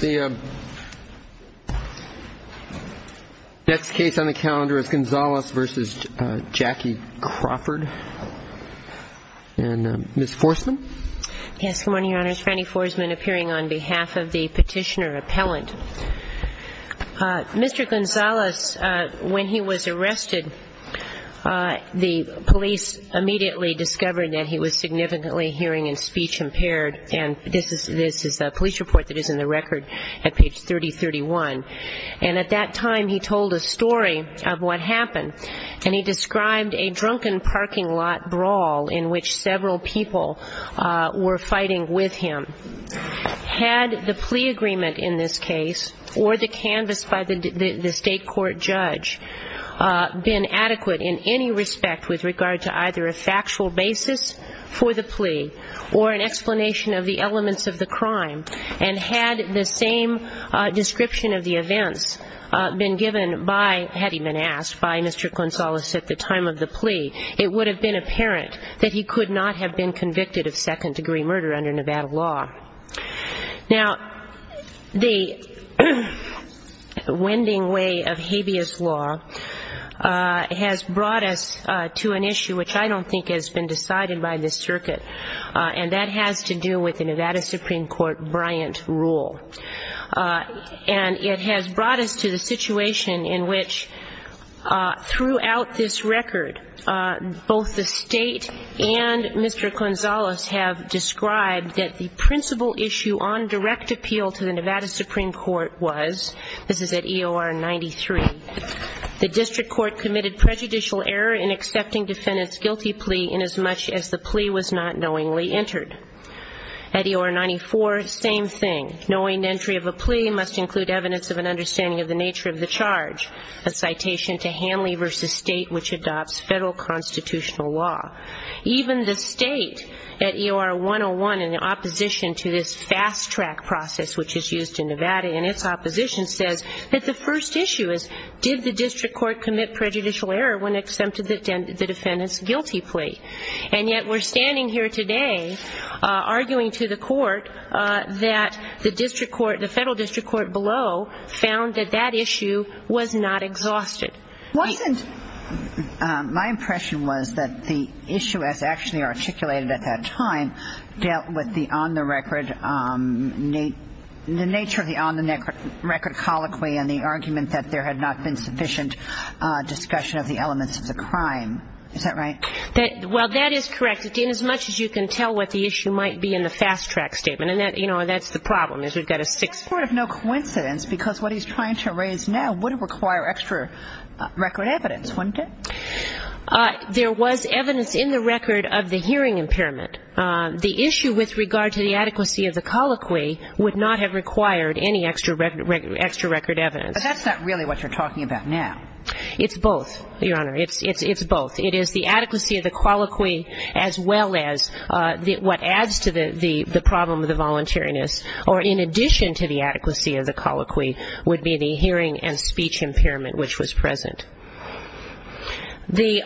The next case on the calendar is Gonzales v. Jackie Crawford. And Ms. Forsman? Yes. Good morning, Your Honors. Fannie Forsman appearing on behalf of the Petitioner Appellant. Mr. Gonzales, when he was arrested, the police immediately discovered that he was significantly hearing and speech impaired. And this is a police report that is in the record at page 3031. And at that time, he told a story of what happened. And he described a drunken parking lot brawl in which several people were fighting with him. Had the plea agreement in this case or the canvas by the State Court judge been adequate in any respect with regard to either a factual basis for the plea or an explanation of the elements of the crime, and had the same description of the events been given by, had he been asked by Mr. Gonzales at the time of the plea, it would have been apparent that he could not have been convicted of second-degree murder under Nevada law. Now, the wending way of habeas law has brought us to an issue which I don't think has been decided by this circuit, and that has to do with the Nevada Supreme Court Bryant rule. And it has brought us to the situation in which throughout this record, both the State and Mr. Gonzales have described that the principal issue on direct appeal to the Nevada Supreme Court was, this is at EOR 93, the district court committed prejudicial error in accepting defendant's guilty plea inasmuch as the plea was not knowingly entered. At EOR 94, same thing. Knowing entry of a plea must include evidence of an understanding of the nature of the charge, a citation to Hanley v. State, which adopts federal constitutional law. Even the State at EOR 101, in opposition to this fast-track process which is used in Nevada and its opposition, says that the first issue is, did the district court commit prejudicial error when it accepted the defendant's guilty plea? And yet we're standing here today arguing to the court that the district court, the federal district court below, found that that issue was not exhausted. Wasn't, my impression was that the issue as actually articulated at that time dealt with the on-the-record, the nature of the on-the-record colloquy and the argument that there had not been sufficient discussion of the elements of the crime. Is that right? Well, that is correct. Inasmuch as you can tell what the issue might be in the fast-track statement. And that's the problem, is we've got a six... It's sort of no coincidence because what he's trying to raise now would require extra record evidence, wouldn't it? There was evidence in the record of the hearing impairment. The issue with regard to the adequacy of the colloquy would not have required any extra record evidence. But that's not really what you're talking about now. It's both, Your Honor. It's both. It is the adequacy of the colloquy as well as what adds to the problem of the voluntariness, or in addition to the adequacy of the colloquy, would be the hearing and speech impairment which was present. The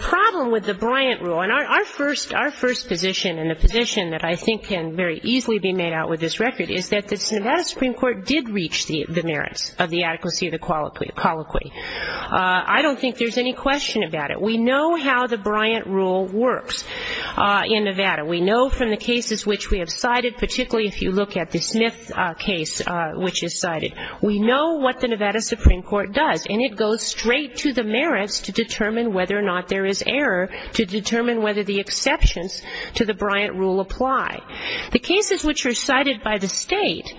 problem with the Bryant rule, and our first position, and the position that I think can very easily be made out with this record, is that the Nevada Supreme Court did reach the merits of the adequacy of the colloquy. I don't think there's any question about it. We know how the Bryant rule works in Nevada. We know from the cases which we have cited, particularly if you look at the Smith case which is cited, we know what the Nevada Supreme Court does. And it goes straight to the merits to determine whether or not there is error, to determine whether the exceptions to the Bryant rule apply. The cases which are cited by the state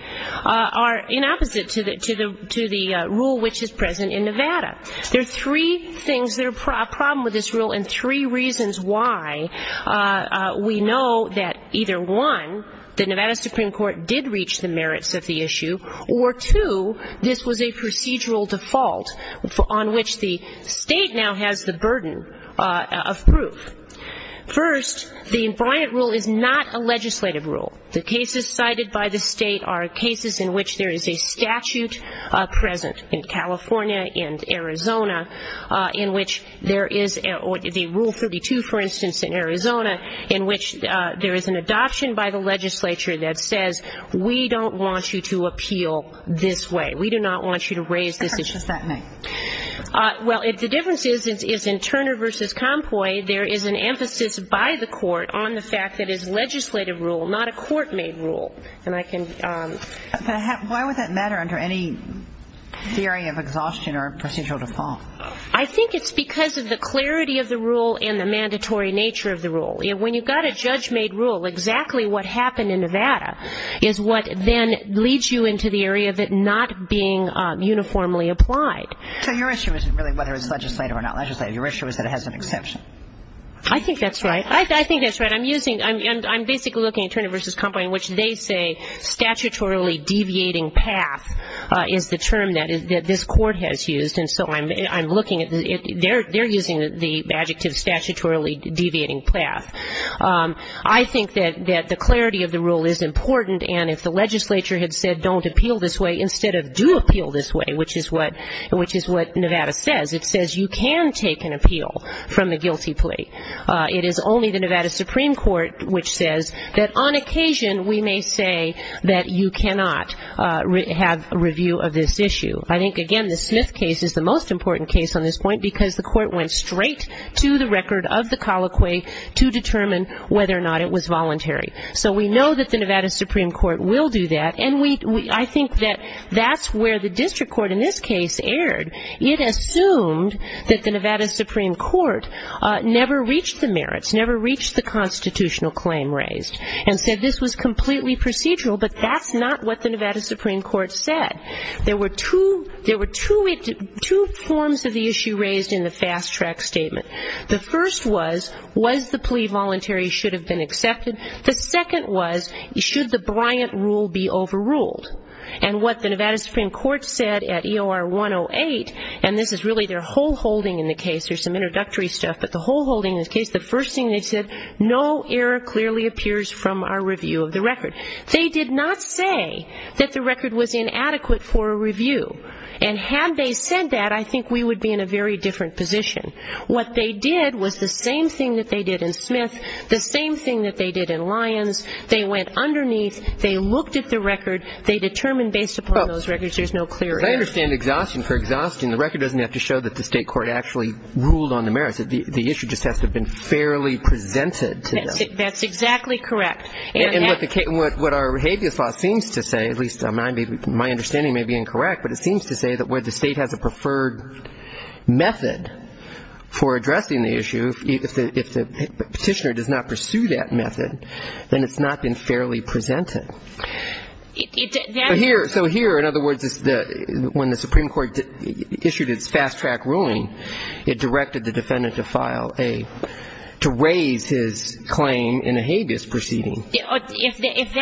are in opposite to the rule which is present in Nevada. There are three things that are a problem with this rule and three reasons why we know that either one, the Nevada Supreme Court did reach the merits of the issue, or two, this was a procedural default on which the state now has the burden of proof. First, the Bryant rule is not a legislative rule. The cases cited by the state are cases in which there is a statute present in California and Arizona, in which there is the Rule 32, for instance, in Arizona, in which there is an adoption by the legislature that says we don't want you to appeal this way. We do not want you to raise this issue. What difference does that make? Well, the difference is in Turner v. Compoy, there is an emphasis by the court on the fact that it's a legislative rule, not a court-made rule. And I can... Why would that matter under any theory of exhaustion or procedural default? I think it's because of the clarity of the rule and the mandatory nature of the rule. When you've got a judge-made rule, exactly what happened in Nevada is what then leads you into the area of it not being uniformly applied. So your issue isn't really whether it's legislative or not legislative. Your issue is that it has an exception. I think that's right. I think that's right. I'm using... I'm basically looking at Turner v. Compoy in which they say statutorily deviating path is the term that this court has used. And so I'm looking at... They're using the adjective statutorily deviating path. I think that the clarity of the rule is important, and if the legislature had said don't appeal this way instead of do appeal this way, which is what Nevada says, it says you can take an appeal from the guilty plea. It is only the Nevada Supreme Court which says that on occasion we may say that you cannot have a review of this issue. I think, again, the Smith case is the most important case on this point because the court went straight to the record of the colloquy to determine whether or not it was voluntary. So we know that the Nevada Supreme Court will do that, and I think that that's where the district court in this case erred. It assumed that the Nevada Supreme Court never reached the merits, never reached the constitutional claim raised and said this was completely procedural, but that's not what the Nevada Supreme Court said. There were two forms of the issue raised in the fast-track statement. The first was, was the plea voluntary, should have been accepted? The second was, should the Bryant rule be overruled? And what the Nevada Supreme Court said at EOR 108, and this is really their whole holding in the case, there's some introductory stuff, but the whole holding in this case, the first thing they said, no error clearly appears from our review of the record. They did not say that the record was inadequate for a review, and had they said that I think we would be in a very different position. What they did was the same thing that they did in Smith, the same thing that they did in Lyons. They went underneath. They looked at the record. They determined based upon those records there's no clear error. I understand exhaustion. For exhaustion, the record doesn't have to show that the state court actually ruled on the merits. The issue just has to have been fairly presented to them. That's exactly correct. And what our behavior thought seems to say, at least my understanding may be incorrect, but it seems to say that where the state has a preferred method for addressing the issue, if the Petitioner does not pursue that method, then it's not been fairly presented. So here, in other words, when the Supreme Court issued its fast-track ruling, it directed the defendant to file a, to raise his claim in a habeas proceeding. If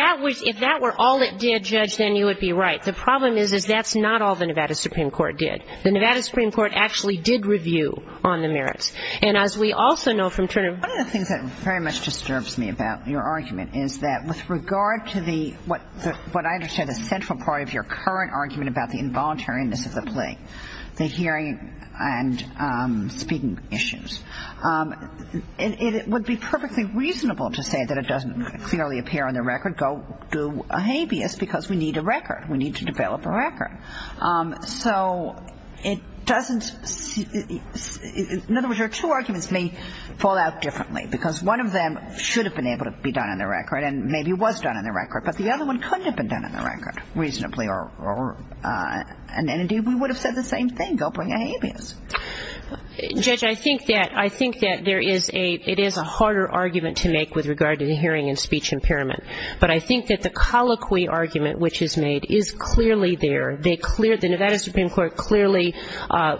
that were all it did, Judge, then you would be right. The problem is, is that's not all the Nevada Supreme Court did. The Nevada Supreme Court actually did review on the merits. And as we also know from Turner ---- One of the things that very much disturbs me about your argument is that with regard to the, what I understand the central part of your current argument about the involuntariness of the plea, the hearing and speaking issues, it would be perfectly reasonable to say that it doesn't clearly appear on the record. Go do a habeas because we need a record. We need to develop a record. So it doesn't, in other words, your two arguments may fall out differently because one of them should have been able to be done on the record and maybe was done on the record, but the other one couldn't have been done on the record reasonably, and indeed we would have said the same thing. Go bring a habeas. Judge, I think that there is a, it is a harder argument to make with regard to the hearing and speech impairment. But I think that the colloquy argument which is made is clearly there. The Nevada Supreme Court clearly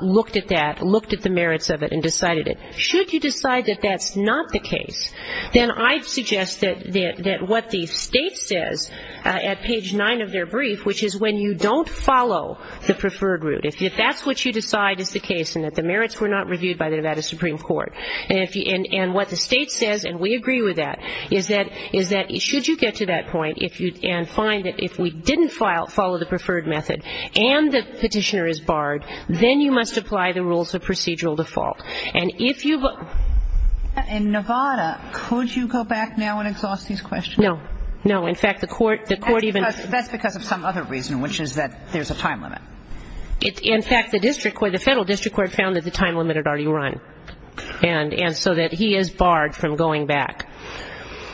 looked at that, looked at the merits of it and decided it. Should you decide that that's not the case, then I'd suggest that what the state says at page 9 of their brief, which is when you don't follow the preferred route, if that's what you decide is the case and that the merits were not reviewed by the Nevada Supreme Court, and what the state says, and we agree with that, is that should you get to that point and find that if we didn't follow the preferred method and the petitioner is barred, then you must apply the rules of procedural default. And if you look... In Nevada, could you go back now and exhaust these questions? No. No. In fact, the court even... That's because of some other reason, which is that there's a time limit. In fact, the district court, the federal district court found that the time limit had already run and so that he is barred from going back.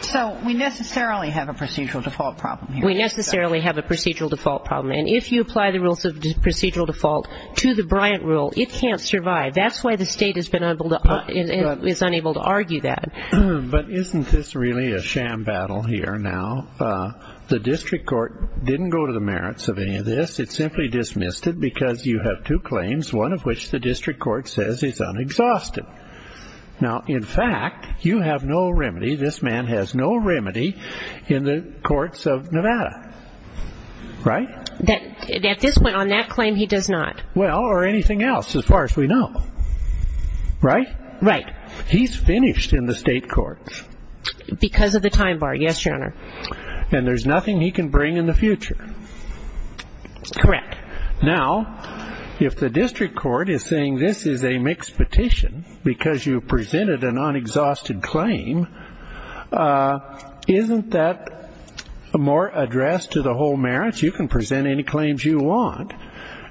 So we necessarily have a procedural default problem here. We necessarily have a procedural default problem. And if you apply the rules of procedural default to the Bryant rule, it can't survive. That's why the state is unable to argue that. But isn't this really a sham battle here now? The district court didn't go to the merits of any of this. It simply dismissed it because you have two claims, one of which the district court says is unexhausted. Now, in fact, you have no remedy. This man has no remedy in the courts of Nevada. Right? At this point on that claim, he does not. Well, or anything else as far as we know. Right? Right. He's finished in the state courts. Because of the time bar, yes, Your Honor. And there's nothing he can bring in the future. Correct. Now, if the district court is saying this is a mixed petition because you presented an unexhausted claim, isn't that more addressed to the whole merits? You can present any claims you want,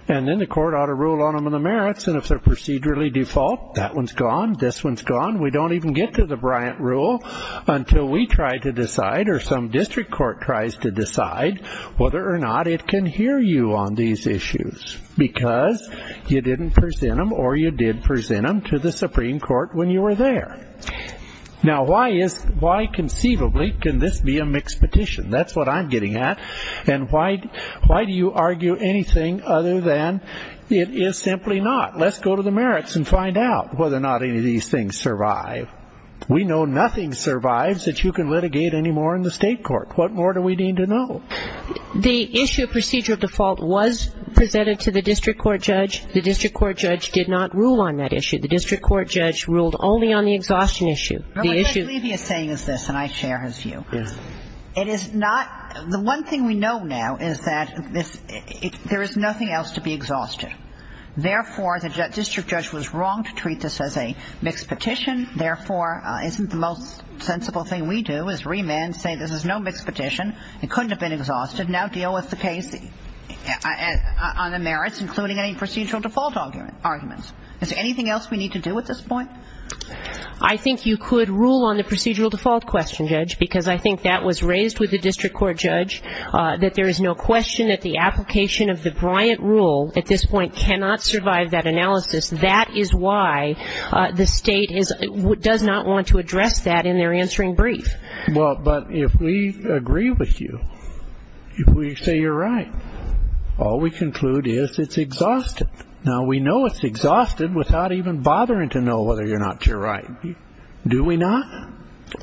and then the court ought to rule on them in the merits. And if they're procedurally default, that one's gone, this one's gone. We don't even get to the Bryant rule until we try to decide or some district court tries to decide whether or not it can hear you on these issues because you didn't present them or you did present them to the Supreme Court when you were there. Now, why conceivably can this be a mixed petition? That's what I'm getting at. And why do you argue anything other than it is simply not? Let's go to the merits and find out whether or not any of these things survive. We know nothing survives that you can litigate anymore in the state court. What more do we need to know? The issue of procedural default was presented to the district court judge. The district court judge did not rule on that issue. The district court judge ruled only on the exhaustion issue. What Judge Levy is saying is this, and I share his view. It is not the one thing we know now is that there is nothing else to be exhausted. Therefore, the district judge was wrong to treat this as a mixed petition. Therefore, isn't the most sensible thing we do is remand, say this is no mixed petition. It couldn't have been exhausted. Now deal with the case on the merits, including any procedural default arguments. Is there anything else we need to do at this point? I think you could rule on the procedural default question, Judge, because I think that was raised with the district court judge, that there is no question that the application of the Bryant rule at this point cannot survive that analysis. That is why the state does not want to address that in their answering brief. Well, but if we agree with you, if we say you're right, all we conclude is it's exhausted. Now we know it's exhausted without even bothering to know whether or not you're right. Do we not?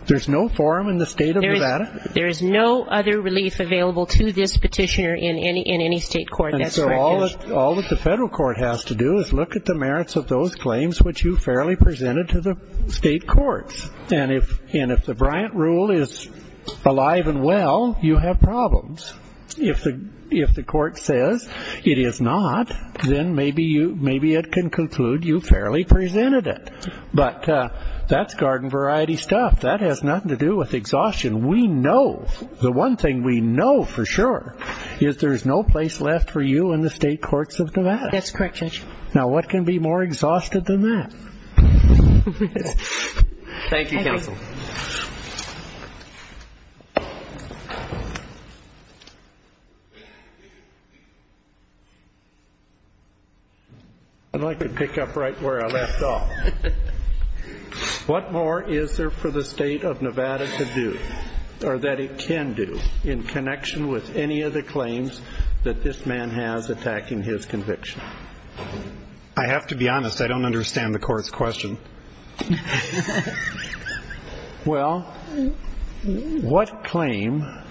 There's no forum in the state of Nevada. There is no other relief available to this petitioner in any state court that's practiced. And so all that the federal court has to do is look at the merits of those claims which you fairly presented to the state courts. And if the Bryant rule is alive and well, you have problems. If the court says it is not, then maybe it can conclude you fairly presented it. But that's garden variety stuff. That has nothing to do with exhaustion. We know the one thing we know for sure is there's no place left for you in the state courts of Nevada. That's correct, Judge. Now what can be more exhausted than that? Thank you, Counsel. I'd like to pick up right where I left off. What more is there for the state of Nevada to do or that it can do in connection with any of the claims that this man has attacking his conviction? I have to be honest. I don't understand the court's question. Well, what claim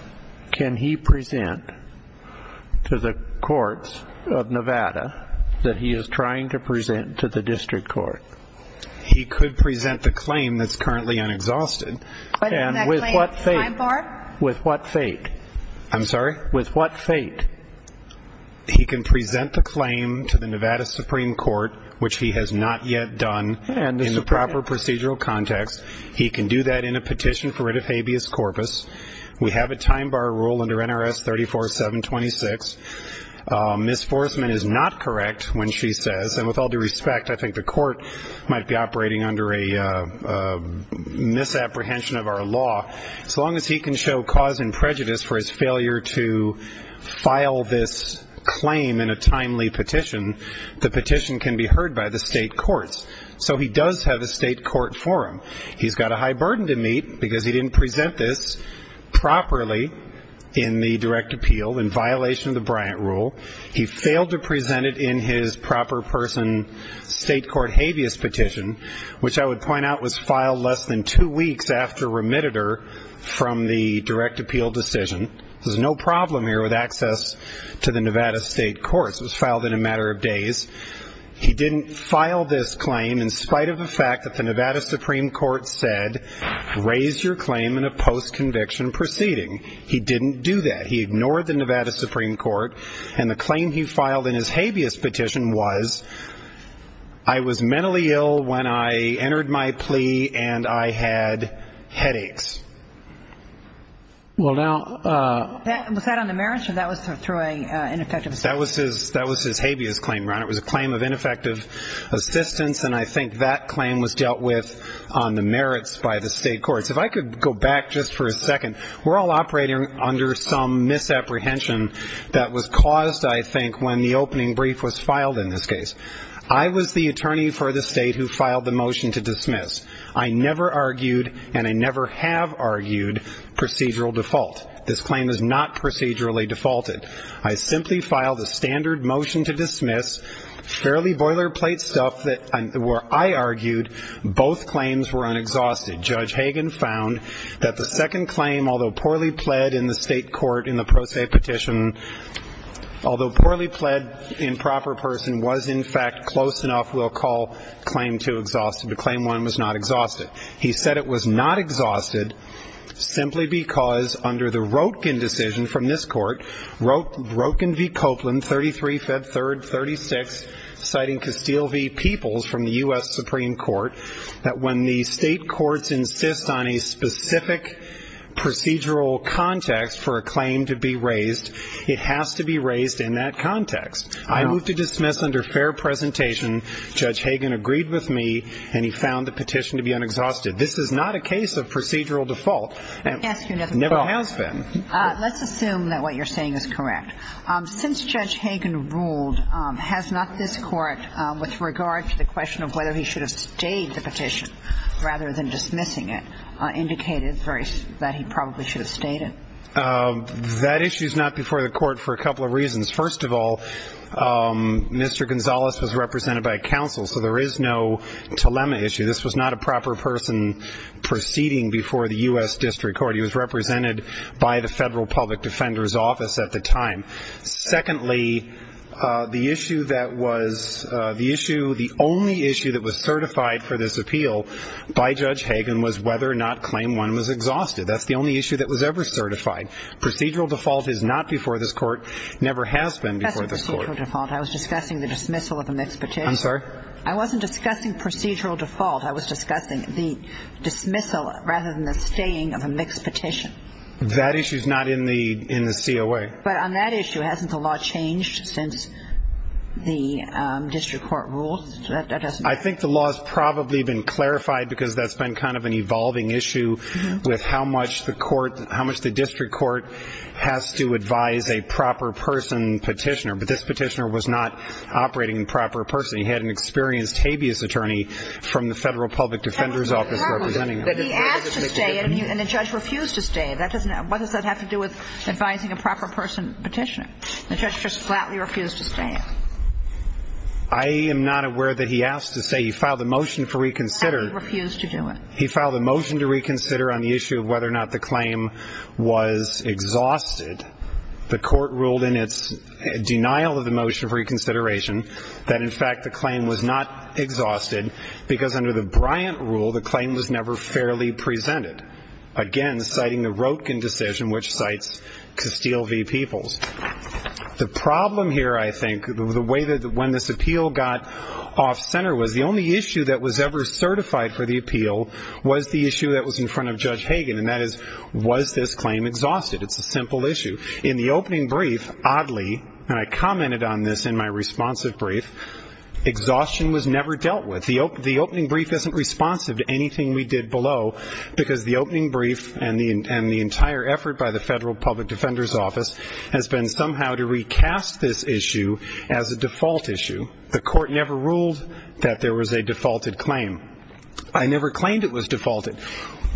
can he present to the courts of Nevada that he is trying to present to the district court? He could present the claim that's currently unexhausted. And with what fate? With what fate? I'm sorry? With what fate? He can present the claim to the Nevada Supreme Court, which he has not yet done in the proper procedural context. He can do that in a petition for writ of habeas corpus. We have a time bar rule under NRS 34726. Misforcement is not correct when she says, and with all due respect, I think the court might be operating under a misapprehension of our law. As long as he can show cause and prejudice for his failure to file this claim in a timely petition, the petition can be heard by the state courts. So he does have a state court for him. He's got a high burden to meet because he didn't present this properly in the direct appeal in violation of the Bryant rule. He failed to present it in his proper person state court habeas petition, which I would point out was filed less than two weeks after remitted her from the direct appeal decision. There's no problem here with access to the Nevada state courts. It was filed in a matter of days. He didn't file this claim in spite of the fact that the Nevada Supreme Court said, raise your claim in a post-conviction proceeding. He didn't do that. He ignored the Nevada Supreme Court, and the claim he filed in his habeas petition was, I was mentally ill when I entered my plea, and I had headaches. Well, now. Was that on the merits, or that was through an ineffective? That was his habeas claim, Ron. It was a claim of ineffective assistance, and I think that claim was dealt with on the merits by the state courts. If I could go back just for a second. We're all operating under some misapprehension that was caused, I think, when the opening brief was filed in this case. I was the attorney for the state who filed the motion to dismiss. I never argued, and I never have argued, procedural default. This claim is not procedurally defaulted. I simply filed a standard motion to dismiss, fairly boilerplate stuff where I argued both claims were unexhausted. Judge Hagan found that the second claim, although poorly pled in the state court in the pro se petition, although poorly pled in proper person, was in fact close enough, we'll call claim two exhausted, but claim one was not exhausted. He said it was not exhausted simply because under the Roetgen decision from this court, Roetgen v. Copeland, 33-3-36, citing Castile v. Peoples from the U.S. Supreme Court, that when the state courts insist on a specific procedural context for a claim to be raised, it has to be raised in that context. I move to dismiss under fair presentation. Judge Hagan agreed with me, and he found the petition to be unexhausted. This is not a case of procedural default. It never has been. Let's assume that what you're saying is correct. Since Judge Hagan ruled, has not this court, with regard to the question of whether he should have stayed the petition rather than dismissing it, indicated that he probably should have stayed it? That issue is not before the court for a couple of reasons. First of all, Mr. Gonzalez was represented by a counsel, so there is no dilemma issue. This was not a proper person proceeding before the U.S. District Court. He was represented by the Federal Public Defender's Office at the time. Secondly, the issue that was the only issue that was certified for this appeal by Judge Hagan was whether or not claim one was exhausted. That's the only issue that was ever certified. Procedural default is not before this court, never has been before this court. That's procedural default. I was discussing the dismissal of a mixed petition. I'm sorry? I wasn't discussing procedural default. I was discussing the dismissal rather than the staying of a mixed petition. That issue is not in the COA. But on that issue, hasn't the law changed since the District Court ruled? I think the law has probably been clarified because that's been kind of an evolving issue with how much the court, how much the District Court has to advise a proper person petitioner. But this petitioner was not operating in proper person. He had an experienced habeas attorney from the Federal Public Defender's Office representing him. He asked to stay, and the judge refused to stay. What does that have to do with advising a proper person petitioner? The judge just flatly refused to stay. I am not aware that he asked to stay. He filed a motion for reconsider. He refused to do it. He filed a motion to reconsider on the issue of whether or not the claim was exhausted. The court ruled in its denial of the motion for reconsideration that, in fact, the claim was not exhausted because under the Bryant rule the claim was never fairly presented, again citing the Roetgen decision which cites Castile v. Peoples. The problem here, I think, when this appeal got off-center was the only issue that was ever certified for the appeal was the issue that was in front of Judge Hagan, and that is, was this claim exhausted? It's a simple issue. In the opening brief, oddly, and I commented on this in my responsive brief, exhaustion was never dealt with. The opening brief isn't responsive to anything we did below because the opening brief and the entire effort by the Federal Public Defender's Office has been somehow to recast this issue as a default issue. The court never ruled that there was a defaulted claim. I never claimed it was defaulted.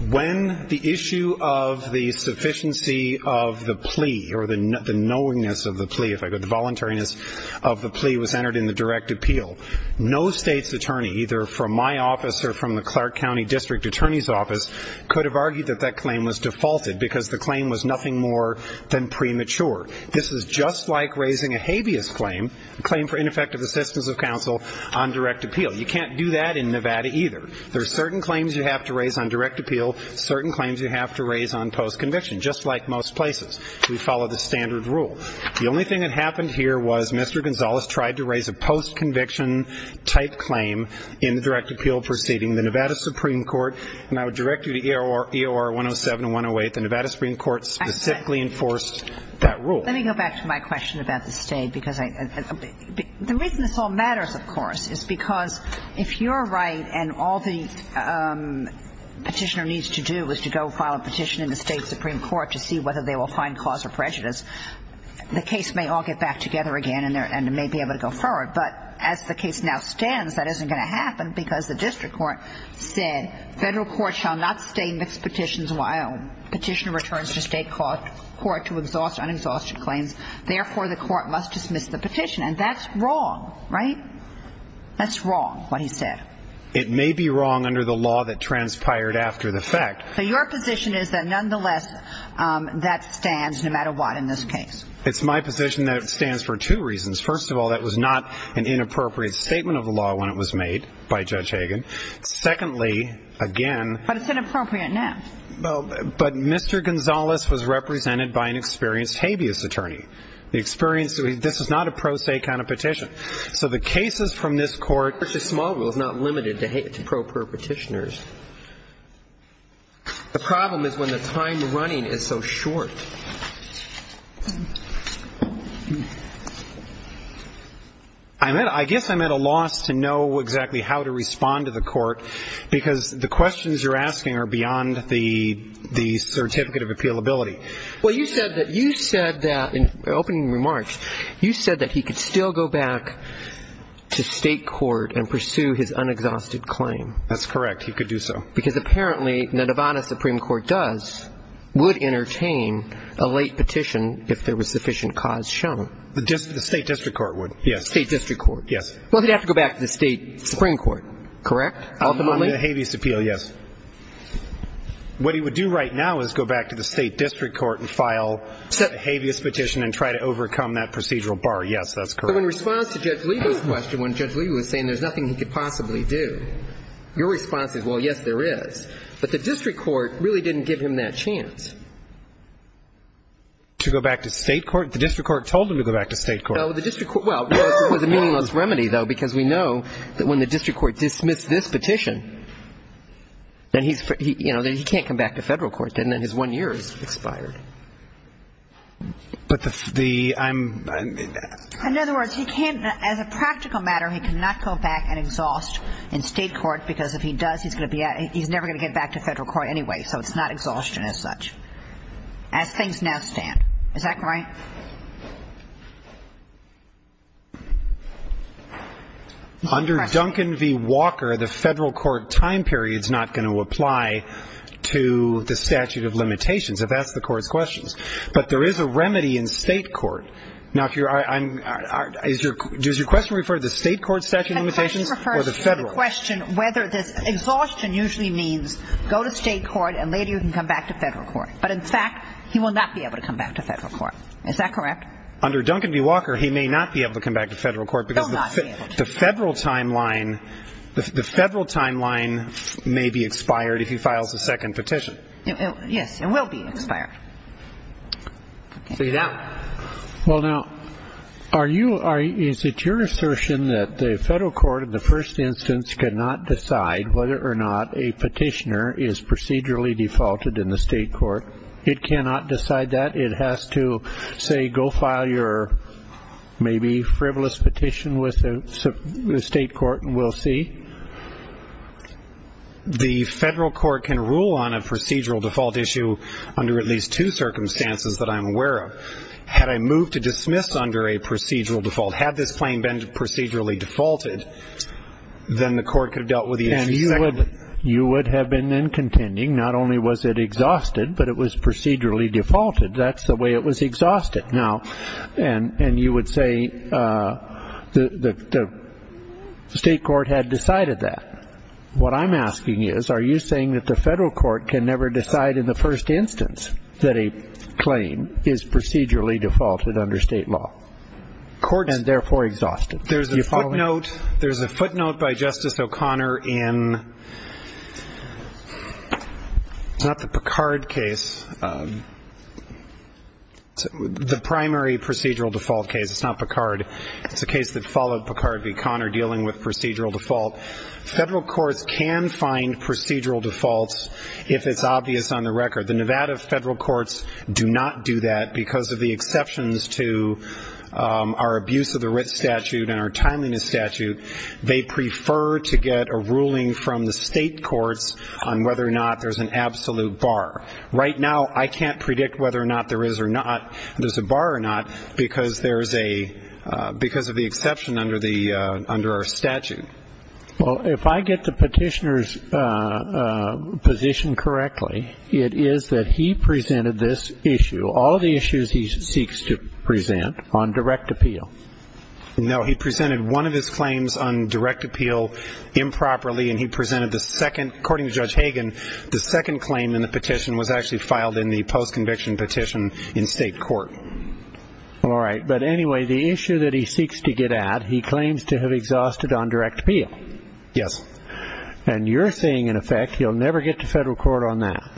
When the issue of the sufficiency of the plea or the knowingness of the plea, if I could, the voluntariness of the plea was entered in the direct appeal, no state's attorney, either from my office or from the Clark County District Attorney's Office, could have argued that that claim was defaulted because the claim was nothing more than premature. This is just like raising a habeas claim, a claim for ineffective assistance of counsel, on direct appeal. You can't do that in Nevada either. There are certain claims you have to raise on direct appeal, certain claims you have to raise on post-conviction, just like most places. We follow the standard rule. The only thing that happened here was Mr. Gonzalez tried to raise a post-conviction-type claim in the direct appeal proceeding. The Nevada Supreme Court, and I would direct you to EOR 107 and 108, the Nevada Supreme Court specifically enforced that rule. Let me go back to my question about the state. The reason this all matters, of course, is because if you're right and all the petitioner needs to do is to go file a petition in the state supreme court to see whether they will find cause for prejudice, the case may all get back together again and may be able to go forward. But as the case now stands, that isn't going to happen because the district court said, federal court shall not stay and fix petitions while petitioner returns to state court to exhaust unexhausted claims. Therefore, the court must dismiss the petition. And that's wrong, right? That's wrong, what he said. It may be wrong under the law that transpired after the fact. So your position is that nonetheless that stands no matter what in this case? It's my position that it stands for two reasons. First of all, that was not an inappropriate statement of the law when it was made by Judge Hagan. Secondly, again. But it's inappropriate now. But Mr. Gonzales was represented by an experienced habeas attorney. The experience, this is not a pro se kind of petition. So the cases from this court. The court versus small rule is not limited to pro per petitioners. The problem is when the time running is so short. I guess I'm at a loss to know exactly how to respond to the court because the questions you're asking are beyond the certificate of appealability. Well, you said that you said that in opening remarks, you said that he could still go back to state court and pursue his unexhausted claim. That's correct. He could do so. Because apparently the Nevada Supreme Court does would entertain a late petition if there was sufficient cause shown. The state district court would. Yes. State district court. Yes. Well, he'd have to go back to the state Supreme Court. Correct. Ultimately. Habeas appeal. Yes. What he would do right now is go back to the state district court and file a habeas petition and try to overcome that procedural bar. Yes, that's correct. In response to Judge Lieber's question, when Judge Lieber was saying there's nothing he could possibly do, your response is, well, yes, there is. But the district court really didn't give him that chance. To go back to state court? The district court told him to go back to state court. Well, it was a meaningless remedy, though, because we know that when the district court dismissed this petition, then he can't come back to federal court. Then his one year is expired. But the ‑‑ I'm ‑‑ In other words, he can't, as a practical matter, he cannot go back and exhaust in state court because if he does, he's never going to get back to federal court anyway, so it's not exhaustion as such. As things now stand. Is that correct? Under Duncan v. Walker, the federal court time period is not going to apply to the statute of limitations. I've asked the court's questions. But there is a remedy in state court. Now, if you're ‑‑ does your question refer to the state court statute of limitations or the federal? The question refers to the question whether this exhaustion usually means go to state court and later you can come back to federal court. But, in fact, he will not be able to come back to federal court. Is that correct? Under Duncan v. Walker, he may not be able to come back to federal court. He will not be able to. Because the federal timeline may be expired if he files a second petition. Yes, it will be expired. See that? Well, now, are you ‑‑ is it your assertion that the federal court in the first instance cannot decide whether or not a petitioner is procedurally defaulted in the state court? It cannot decide that? It has to, say, go file your maybe frivolous petition with the state court and we'll see? The federal court can rule on a procedural default issue under at least two circumstances that I'm aware of. Had I moved to dismiss under a procedural default, had this claim been procedurally defaulted, then the court could have dealt with the issue secondly. And you would have been then contending not only was it exhausted, but it was procedurally defaulted. That's the way it was exhausted. And you would say the state court had decided that. What I'm asking is, are you saying that the federal court can never decide in the first instance that a claim is procedurally defaulted under state law and therefore exhausted? There's a footnote by Justice O'Connor in ‑‑ it's not the Picard case. The primary procedural default case. It's not Picard. It's a case that followed Picard v. Conner dealing with procedural default. Federal courts can find procedural defaults if it's obvious on the record. The Nevada federal courts do not do that because of the exceptions to our abuse of the writ statute and our timeliness statute. They prefer to get a ruling from the state courts on whether or not there's an absolute bar. Right now, I can't predict whether or not there is or not, if there's a bar or not, because of the exception under our statute. Well, if I get the petitioner's position correctly, it is that he presented this issue, all the issues he seeks to present, on direct appeal. No, he presented one of his claims on direct appeal improperly, and he presented the second. According to Judge Hagan, the second claim in the petition was actually filed in the postconviction petition in state court. All right. But anyway, the issue that he seeks to get at, he claims to have exhausted on direct appeal. Yes. And you're saying, in effect, he'll never get to federal court on that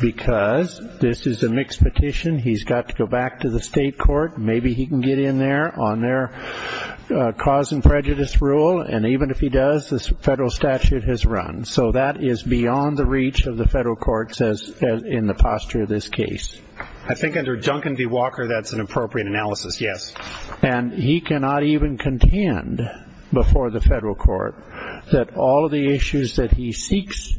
because this is a mixed petition, he's got to go back to the state court, maybe he can get in there on their cause and prejudice rule, and even if he does, the federal statute has run. So that is beyond the reach of the federal courts in the posture of this case. I think under Duncan v. Walker that's an appropriate analysis, yes. And he cannot even contend before the federal court that all of the issues that he seeks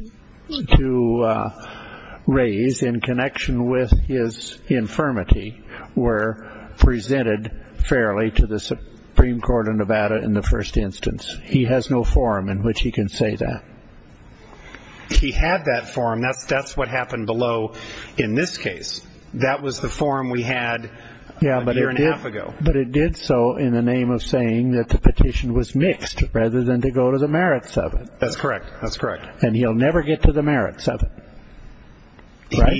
to raise in connection with his infirmity were presented fairly to the Supreme Court of Nevada in the first instance. He has no forum in which he can say that. He had that forum. That's what happened below in this case. That was the forum we had a year and a half ago. But it did so in the name of saying that the petition was mixed rather than to go to the merits of it. That's correct. And he'll never get to the merits of it, right?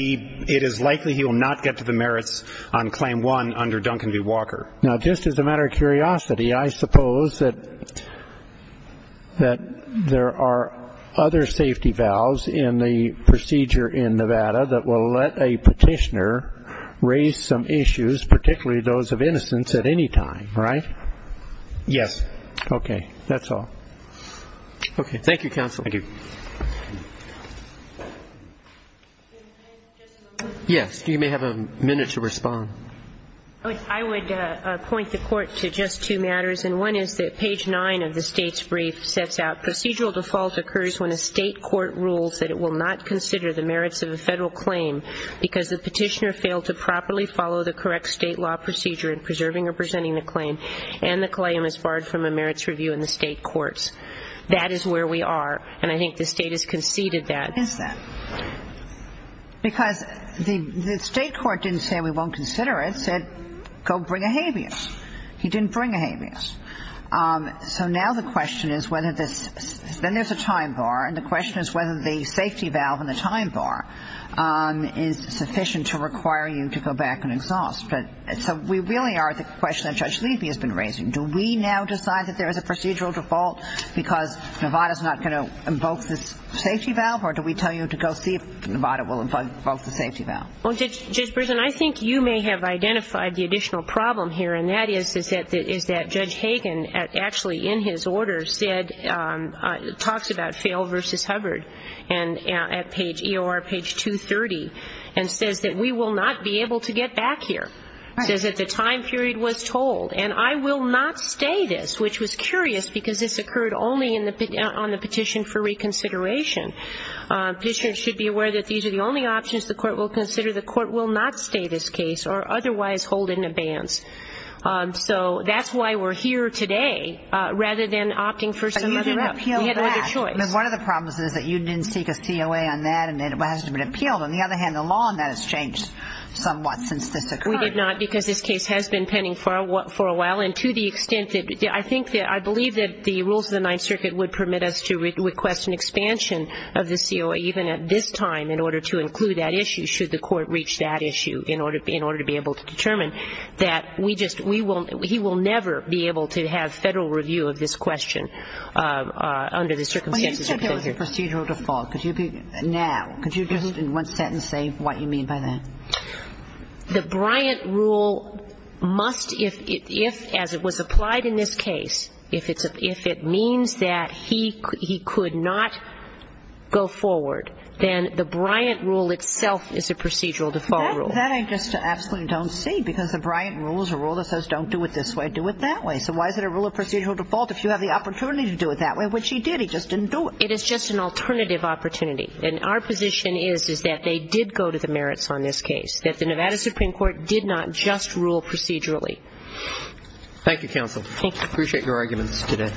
It is likely he will not get to the merits on claim one under Duncan v. Walker. Now, just as a matter of curiosity, I suppose that there are other safety valves in the procedure in Nevada that will let a petitioner raise some issues, particularly those of innocence, at any time, right? Yes. Okay. That's all. Okay. Thank you, Counsel. Thank you. Yes. You may have a minute to respond. I would point the Court to just two matters, and one is that page 9 of the State's brief sets out procedural default occurs when a State court rules that it will not consider the merits of a Federal claim because the petitioner failed to properly follow the correct State law procedure in preserving or presenting the claim, and the claim is barred from a merits review in the State courts. That is where we are, and I think the State has conceded that. Why is that? Because the State court didn't say we won't consider it. It said go bring a habeas. He didn't bring a habeas. So now the question is whether there's a time bar, and the question is whether the safety valve and the time bar is sufficient to require you to go back and exhaust. So we really are at the question that Judge Levy has been raising. Do we now decide that there is a procedural default because Nevada is not going to invoke the safety valve, or do we tell you to go see if Nevada will invoke the safety valve? Well, Judge Brisson, I think you may have identified the additional problem here, and that is that Judge Hagan actually in his order said, talks about fail versus Hubbard at page EOR, page 230, and says that we will not be able to get back here, says that the time period was told, and I will not stay this, which was curious because this occurred only on the petition for reconsideration. Petitioners should be aware that these are the only options the court will consider. The court will not stay this case or otherwise hold in abeyance. So that's why we're here today rather than opting for some other choice. But you didn't appeal that. One of the problems is that you didn't seek a COA on that, and it hasn't been appealed. On the other hand, the law on that has changed somewhat since this occurred. We did not because this case has been pending for a while, and to the extent that I think that I believe that the rules of the Ninth Circuit would permit us to request an expansion of the COA even at this time in order to include that issue, should the court reach that issue in order to be able to determine that we just, he will never be able to have federal review of this question under the circumstances. Well, you said there was a procedural default. Now, could you just in one sentence say what you mean by that? The Bryant rule must, if as it was applied in this case, if it means that he could not go forward, then the Bryant rule itself is a procedural default rule. That I just absolutely don't see because the Bryant rule is a rule that says don't do it this way, do it that way. So why is it a rule of procedural default if you have the opportunity to do it that way, which he did. He just didn't do it. It is just an alternative opportunity. And our position is that they did go to the merits on this case, that the Nevada Supreme Court did not just rule procedurally. Thank you, counsel. Thank you. I appreciate your arguments today.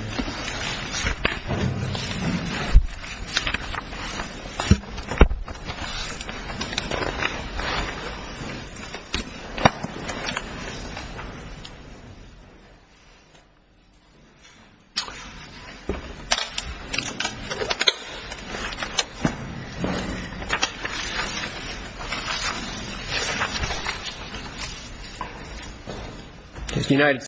Thank you.